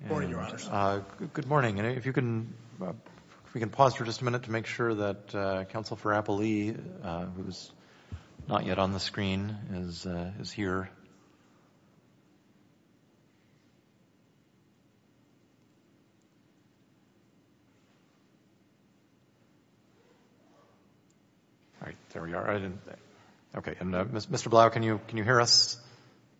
Good morning, Your Honors. Good morning, and if you can, if we can pause for just a minute to make sure that Counsel for Appley, who's not yet on the screen, is is here. All right, there we are. Okay, and Mr. Blau, can you can you hear us?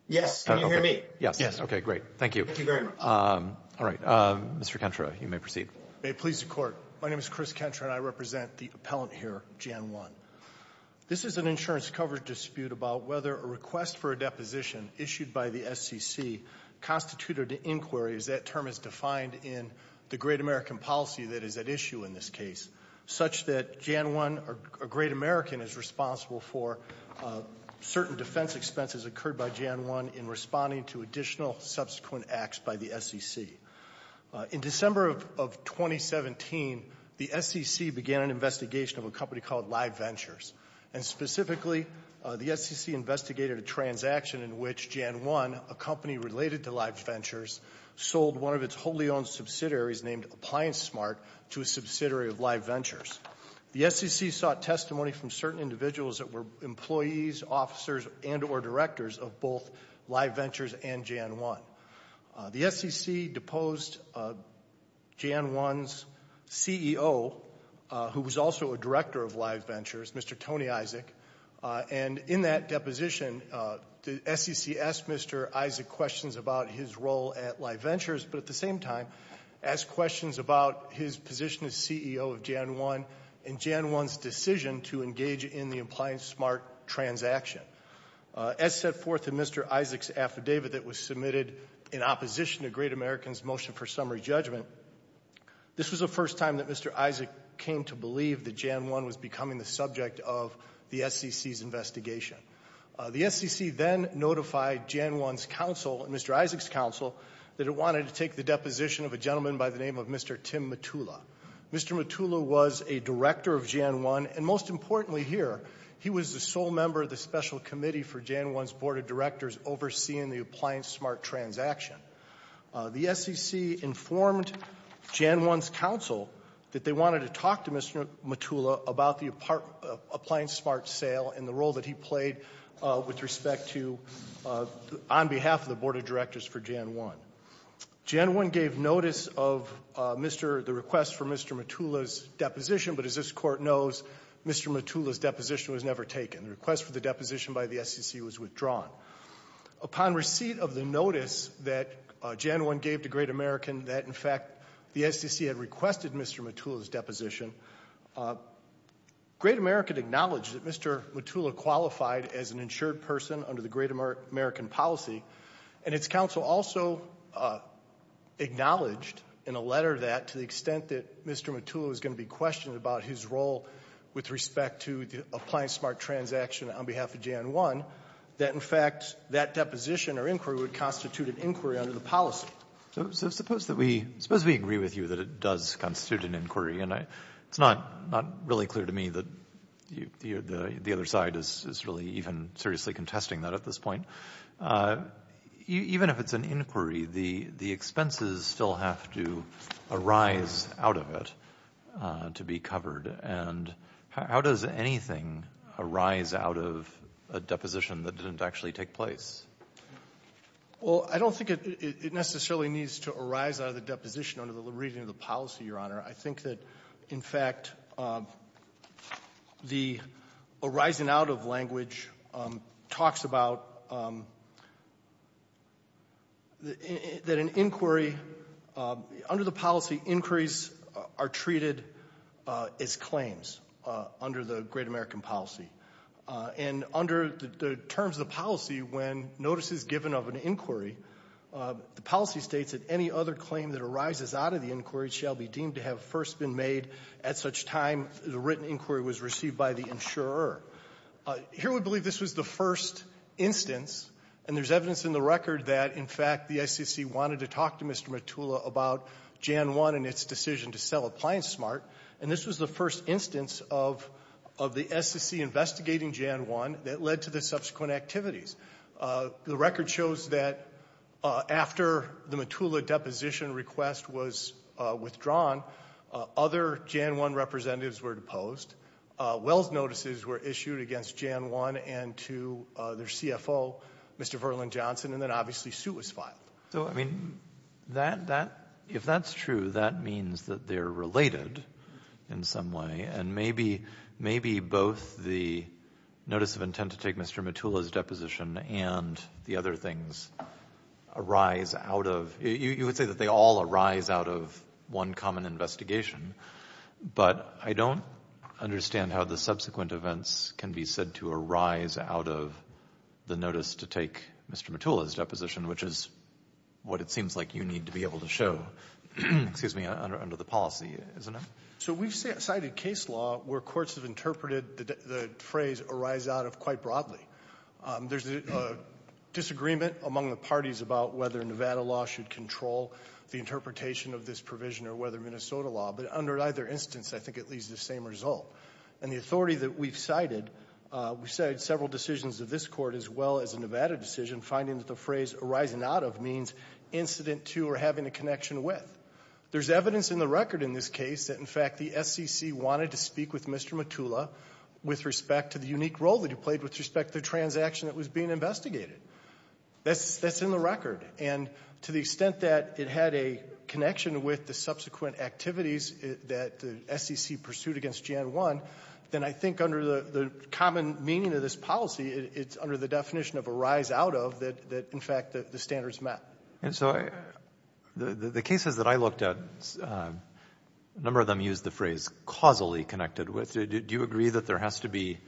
Yes, can you hear me? Yes, yes. Okay, great. Thank you. Thank you very much. All right, Mr. Kentra, you may proceed. May it please the Court, my name is Chris Kentra, and I represent the appellant here, JanOne. This is an insurance coverage dispute about whether a request for a deposition issued by the SEC constituted an inquiry, as that term is defined in the Great American policy that is at issue in this case, such that JanOne, or Great American, is responsible for certain defense expenses occurred by JanOne in responding to additional subsequent acts by the SEC. In December of 2017, the SEC began an investigation of a company called Live Ventures, and specifically the SEC investigated a transaction in which JanOne, a company related to Live Ventures, sold one of its wholly owned subsidiaries named ApplianceSmart to a subsidiary of Live Ventures. The SEC sought testimony from certain individuals that were employees, officers, and or directors of both Live Ventures and JanOne. The SEC deposed JanOne's CEO, who was also a director of Live Ventures, Mr. Tony Isaac, and in that deposition, the SEC asked Mr. Isaac questions about his role at Live Ventures, but at the same time, asked questions about his position as CEO of JanOne and JanOne's decision to engage in the ApplianceSmart transaction. As set forth in Mr. Isaac's affidavit that was submitted in opposition to Great American's motion for summary judgment, this was the first time that Mr. Isaac came to believe that JanOne was becoming the subject of the SEC's investigation. The SEC then notified JanOne's counsel, Mr. Isaac's counsel, that it wanted to take the deposition of a gentleman by the name of Mr. Tim Mottula. Mr. Mottula was a director of JanOne, and most importantly here, he was the sole member of the special committee for JanOne's board of directors overseeing the ApplianceSmart transaction. The SEC informed JanOne's counsel that they wanted to talk to Mr. Mottula about the ApplianceSmart sale and the role that he played with respect to, on behalf of the board of directors for JanOne. JanOne gave notice of Mr. — the request for Mr. Mottula's deposition, but as this Court knows, Mr. Mottula's deposition was never taken. The request for the deposition by the SEC was withdrawn. Upon receipt of the notice that JanOne gave to Great American that, in fact, the SEC had requested Mr. Mottula's deposition, Great American acknowledged that Mr. Mottula qualified as an insured person under the Great American policy, and its counsel also acknowledged in a letter that, to the extent that Mr. Mottula was going to be questioned about his role with respect to the ApplianceSmart transaction on behalf of JanOne, that, in fact, that deposition or inquiry would constitute an inquiry under the policy. So suppose that we — suppose we agree with you that it does constitute an inquiry, and I — it's not — not really clear to me that you — the other side is really even seriously contesting that at this point. Even if it's an inquiry, the — the expenses still have to arise out of it to be covered. And how does anything arise out of a deposition that didn't actually take place? Well, I don't think it necessarily needs to arise out of the deposition under the reading of the policy, Your Honor. I think that, in fact, the arising-out-of language talks about that an inquiry — under the policy, inquiries are treated as claims under the Great American policy. And under the terms of the policy, when notice is given of an inquiry, the policy states that any other claim that arises out of the inquiry shall be deemed to have first been made at such time the written inquiry was received by the insurer. Here, we believe this was the first instance. And there's evidence in the record that, in fact, the SEC wanted to talk to Mr. Mottula about JanOne and its decision to sell ApplianceSmart. And this was the first instance of — of the SEC investigating JanOne that led to the subsequent activities. The record shows that after the Mottula deposition request was withdrawn, other JanOne representatives were deposed. Wells' notices were issued against JanOne and to their CFO, Mr. Verland Johnson, and then obviously, suit was filed. So, I mean, that — that — if that's true, that means that they're related in some way, and maybe — maybe both the notice of intent to take Mr. Mottula's deposition and the other things arise out of — you would say that they all arise out of one common investigation, but I don't understand how the subsequent events can be said to arise out of the notice to take Mr. Mottula's deposition, which is what it seems like you need to be able to show — excuse me — under the policy, isn't it? So we've cited case law where courts have interpreted the phrase arise out of quite broadly. There's a disagreement among the parties about whether Nevada law should control the interpretation of this provision or whether Minnesota law, but under either instance, I think it leaves the same result. And the authority that we've cited, we've cited several decisions of this Court as well as a Nevada decision finding that the phrase arise out of means incident to or having a connection with. There's evidence in the record in this case that, in fact, the SEC wanted to speak with Mr. Mottula with respect to the unique role that he played with respect to the transaction that was being investigated. That's in the record. And to the extent that it had a connection with the subsequent activities that the SEC pursued against GN-1, then I think under the common meaning of this policy, it's under the definition of arise out of that, in fact, the standards met. And so the cases that I looked at, a number of them used the phrase causally connected with. Do you agree that there has to be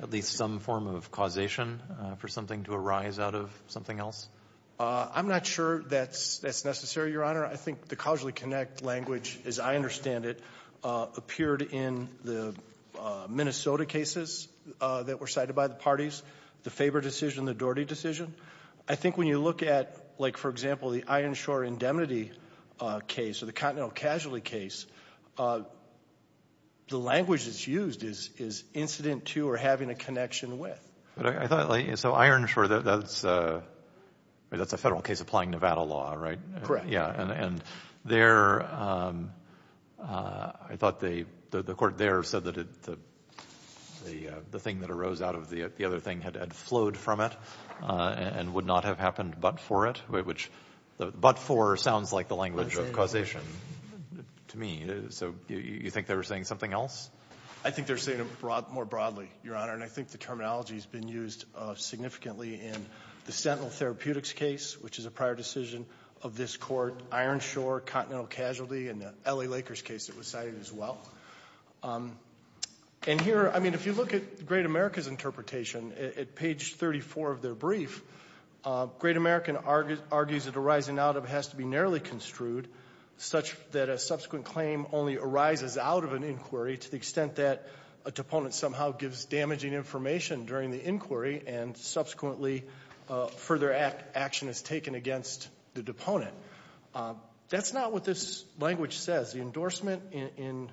at least some form of causation for something to arise out of something else? I'm not sure that's necessary, Your Honor. I think the causally connect language, as I understand it, appeared in the Minnesota cases that were cited by the parties, the Faber decision, the Doherty decision. I think when you look at, like, for example, the Ironshore indemnity case or the Continental Casualty case, the language that's used is incident to or having a connection with. But I thought, like, so Ironshore, that's a federal case applying Nevada law, right? Correct. Yeah. And there, I thought the court there said that the thing that arose out of the other thing had flowed from it and would not have happened but for it, which but for sounds like the language of causation to me. So you think they were saying something else? I think they're saying it more broadly, Your Honor, and I think the terminology's been used significantly in the Sentinel Therapeutics case, which is a prior decision of this court, Ironshore, Continental Casualty, and the L.A. Lakers case that was cited as well. And here, I mean, if you look at Great America's interpretation, at page 34 of their brief, Great American argues that a rising out of has to be narrowly construed such that a subsequent claim only arises out of an inquiry to the extent that a deponent somehow gives damaging information during the inquiry and subsequently further action is taken against the deponent. That's not what this language says. The endorsement in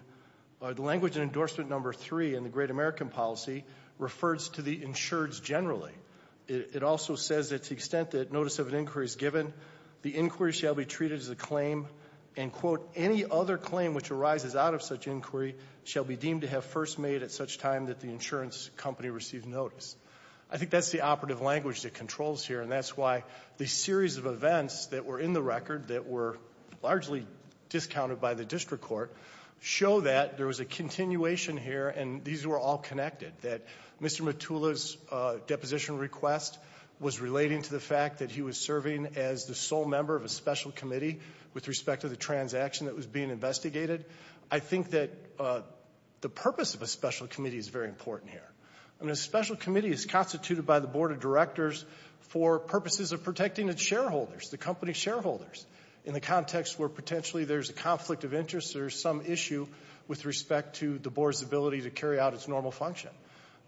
the language in endorsement number three in the Great American policy refers to the insureds generally. It also says that to the extent that notice of an inquiry is given, the inquiry shall be treated as a claim and, quote, any other claim which arises out of such inquiry shall be deemed to have first made at such time that the insurance company received notice. I think that's the operative language that controls here, and that's why the series of events that were in the district court show that there was a continuation here, and these were all connected, that Mr. Metulla's deposition request was relating to the fact that he was serving as the sole member of a special committee with respect to the transaction that was being investigated. I think that the purpose of a special committee is very important here. I mean, a special committee is constituted by the board of directors for purposes of protecting its shareholders, the company's shareholders, in the context where potentially there's a conflict of interest or some issue with respect to the board's ability to carry out its normal function.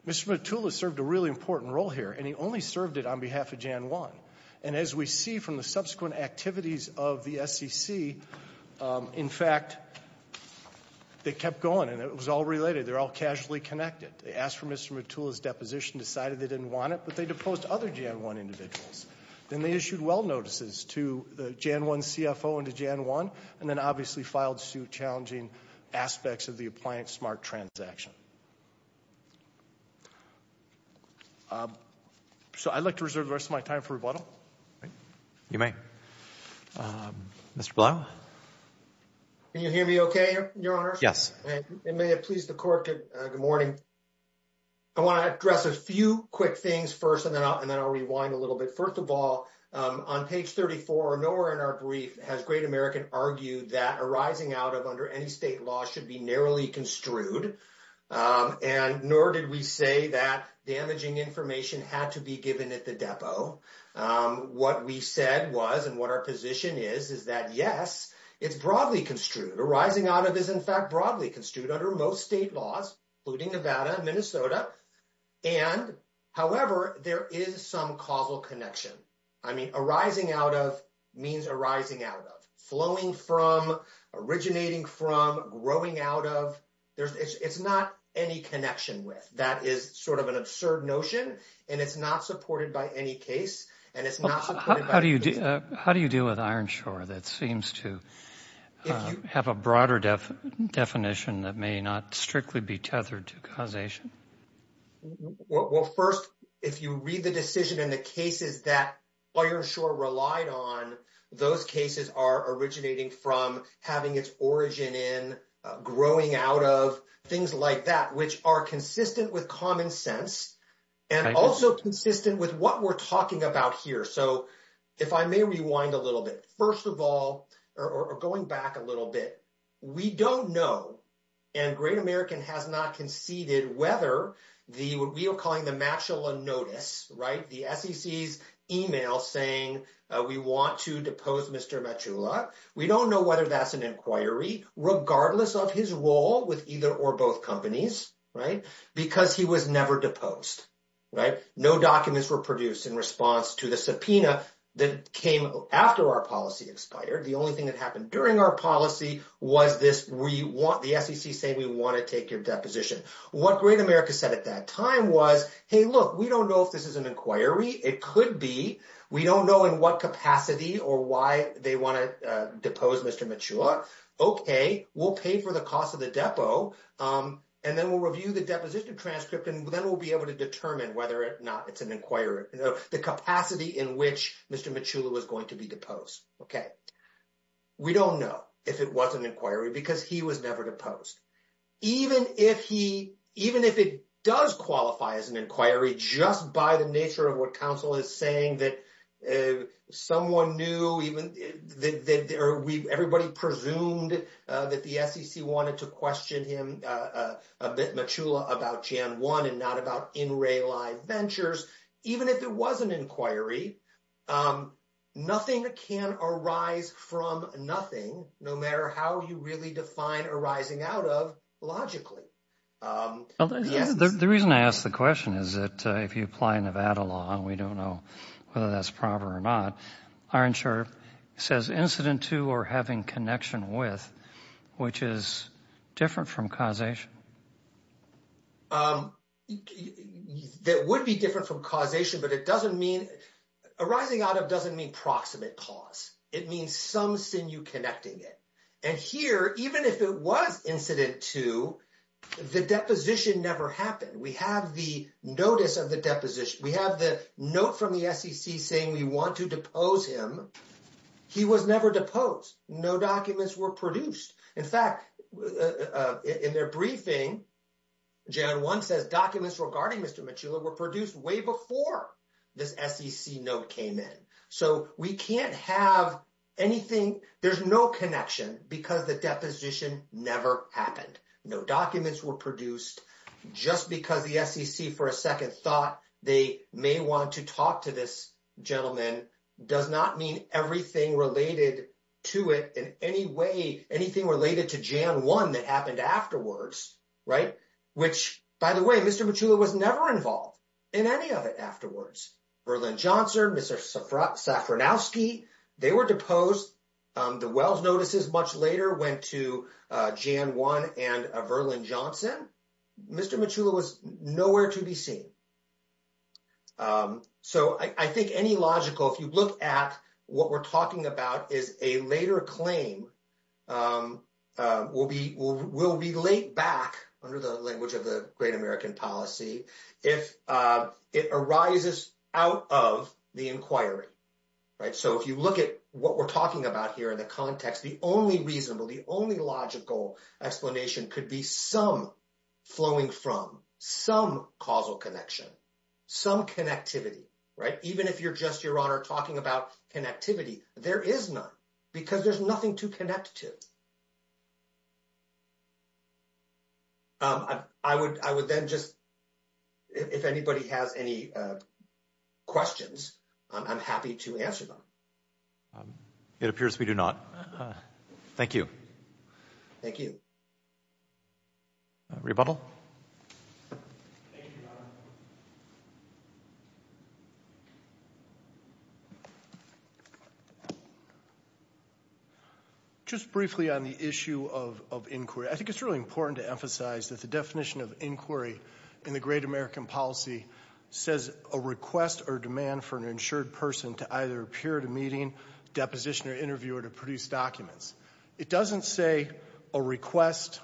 Mr. Metulla served a really important role here, and he only served it on behalf of Jan. 1, and as we see from the subsequent activities of the SEC, in fact, they kept going, and it was all related. They're all casually connected. They asked for Mr. Metulla's deposition, decided they didn't want it, but they deposed other Jan. 1 individuals. Then they issued well notices to the Jan. 1 CFO and to Jan. 1, and then obviously filed suit challenging aspects of the Appliance Smart Transaction. So I'd like to reserve the rest of my time for rebuttal. You may. Mr. Blount? Can you hear me okay, Your Honors? Yes. And may it please the Court, good morning. I want to address a few quick things first, and then I'll rewind a little bit. First of all, on page 34, nowhere in our brief has Great American argued that a rising out of under any state law should be narrowly construed, and nor did we say that damaging information had to be given at the depot. What we said was, and what our position is, is that yes, it's broadly construed. A rising out of is, in fact, broadly construed under most state laws, including Nevada and Minnesota, and however, there is some causal connection. I mean, a rising out of means a rising out of. Flowing from, originating from, growing out of, there's, it's not any connection with. That is sort of an absurd notion, and it's not supported by any case, and it's not... How do you deal with Ironshore that seems to have a causation that may not strictly be tethered to causation? Well, first, if you read the decision and the cases that Ironshore relied on, those cases are originating from having its origin in, growing out of, things like that, which are consistent with common sense, and also consistent with what we're talking about here. So, if I may rewind a little bit. First of all, or going back a little bit, we don't know, and Great American has not conceded whether the, what we are calling the Matula Notice, right? The SEC's email saying we want to depose Mr. Matula. We don't know whether that's an inquiry, regardless of his role with either or both companies, right? Because he was never deposed, right? No documents were produced in response to the subpoena that came after our policy expired. The only thing that happened during our policy was this, we want, the SEC saying we want to take your deposition. What Great America said at that time was, hey, look, we don't know if this is an inquiry. It could be. We don't know in what capacity or why they want to depose Mr. Matula. Okay, we'll pay for the cost of the depo, and then we'll review the deposition transcript, and then we'll be able to determine whether or not it's an inquiry, you know, the capacity in which Mr. Matula was going to be deposed, okay? We don't know if it was an inquiry, because he was never deposed. Even if he, even if it does qualify as an inquiry, just by the nature of what counsel is saying, that someone knew, even, that there, we, everybody presumed that the SEC wanted to question him a bit, Matula, about Jan. 1 and not about in-ray live ventures, even if it was an inquiry, nothing can arise from nothing, no matter how you really define arising out of, logically. The reason I ask the question is that if you apply Nevada law, and we don't know whether that's proper or not, our insurer says incident to or having connection with, which is different from causation. That would be different from causation, but it doesn't mean, arising out of doesn't mean proximate cause, it means some sinew connecting it. And here, even if it was incident to, the deposition never happened. We have the notice of the deposition, we have the note from the SEC saying we want to depose him, he was deposed. No documents were produced. In fact, in their briefing, Jan 1 says documents regarding Mr. Matula were produced way before this SEC note came in. So, we can't have anything, there's no connection, because the deposition never happened. No documents were produced, just because the SEC, for a second, thought they may want to talk to this gentleman does not mean everything related to it in any way, anything related to Jan 1 that happened afterwards, right? Which, by the way, Mr. Matula was never involved in any of it afterwards. Verlin Johnson, Mr. Safranowski, they were deposed. The Wells notices much later went to Jan 1 and Verlin Johnson. Mr. Matula was nowhere to be seen. So, I think any logical, if you look at what we're talking about, is a later claim will relate back, under the language of the Great American Policy, if it arises out of the inquiry, right? So, if you look at what we're talking about here in the context, the only reasonable, the only logical explanation could be some flowing from, some causal connection, some connectivity, right? Even if you're just, Your Honor, talking about connectivity, there is none, because there's nothing to connect to. I would then just, if anybody has any questions, I'm happy to answer them. It appears we do not. Thank you. Thank you. Rebuttal. Just briefly on the issue of inquiry, I think it's really important to emphasize that the definition of inquiry in the Great American Policy says, a request or demand for an insured person to either appear at a meeting, deposition, or interview or to produce documents. It doesn't say a request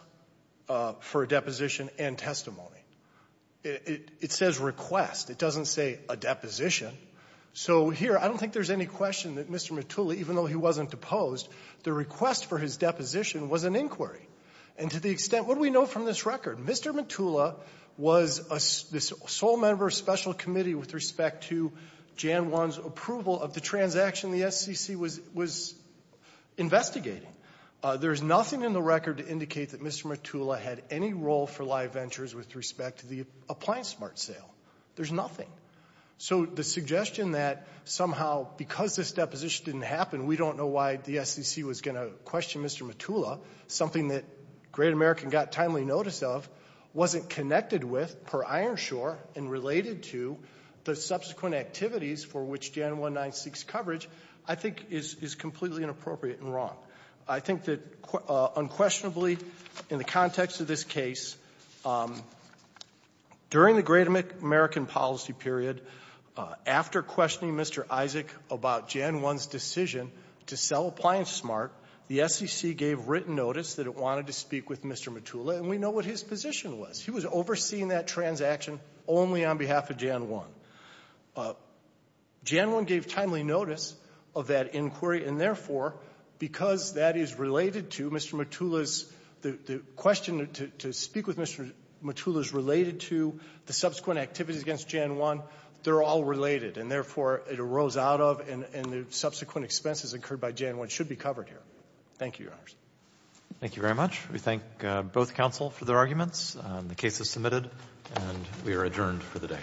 for a deposition and testimony. It says request. It doesn't say a deposition. So, here, I don't think there's any question that Mr. Matula, even though he wasn't deposed, the request for his deposition was an inquiry. And to the extent, what do we know from this record? Mr. Matula was a sole member of a special committee with respect to Jan 1's approval of the transaction the SCC was investigating. There's nothing in the record to indicate that Mr. Matula had any role for live ventures with respect to the appliance smart sale. There's nothing. So, the suggestion that somehow because this deposition didn't happen, we don't know why the SCC was going to question Mr. Matula, something that Great American got timely notice of, wasn't connected with per Ironshore and related to the subsequent activities for which Jan 196 coverage, I think, is completely inappropriate and wrong. I think that unquestionably, in the context of this case, during the Great American Policy period, after questioning Mr. Isaac about Jan 1's decision to sell appliance smart, the SCC did not question Jan 1's decision to sell appliance smart. The SCC gave written notice that it wanted to speak with Mr. Matula, and we know what his position was. He was overseeing that transaction only on behalf of Jan 1. Jan 1 gave timely notice of that inquiry, and therefore, because that is related to Mr. Matula's, the question to speak with Mr. Matula is related to the subsequent activities against Jan 1. They're all related, and therefore, it arose out of, and the subsequent expenses incurred by Jan 1 should be covered here. Thank you, Your Honors. Thank you very much. We thank both counsel for their arguments. The case is submitted, and we are adjourned for the day.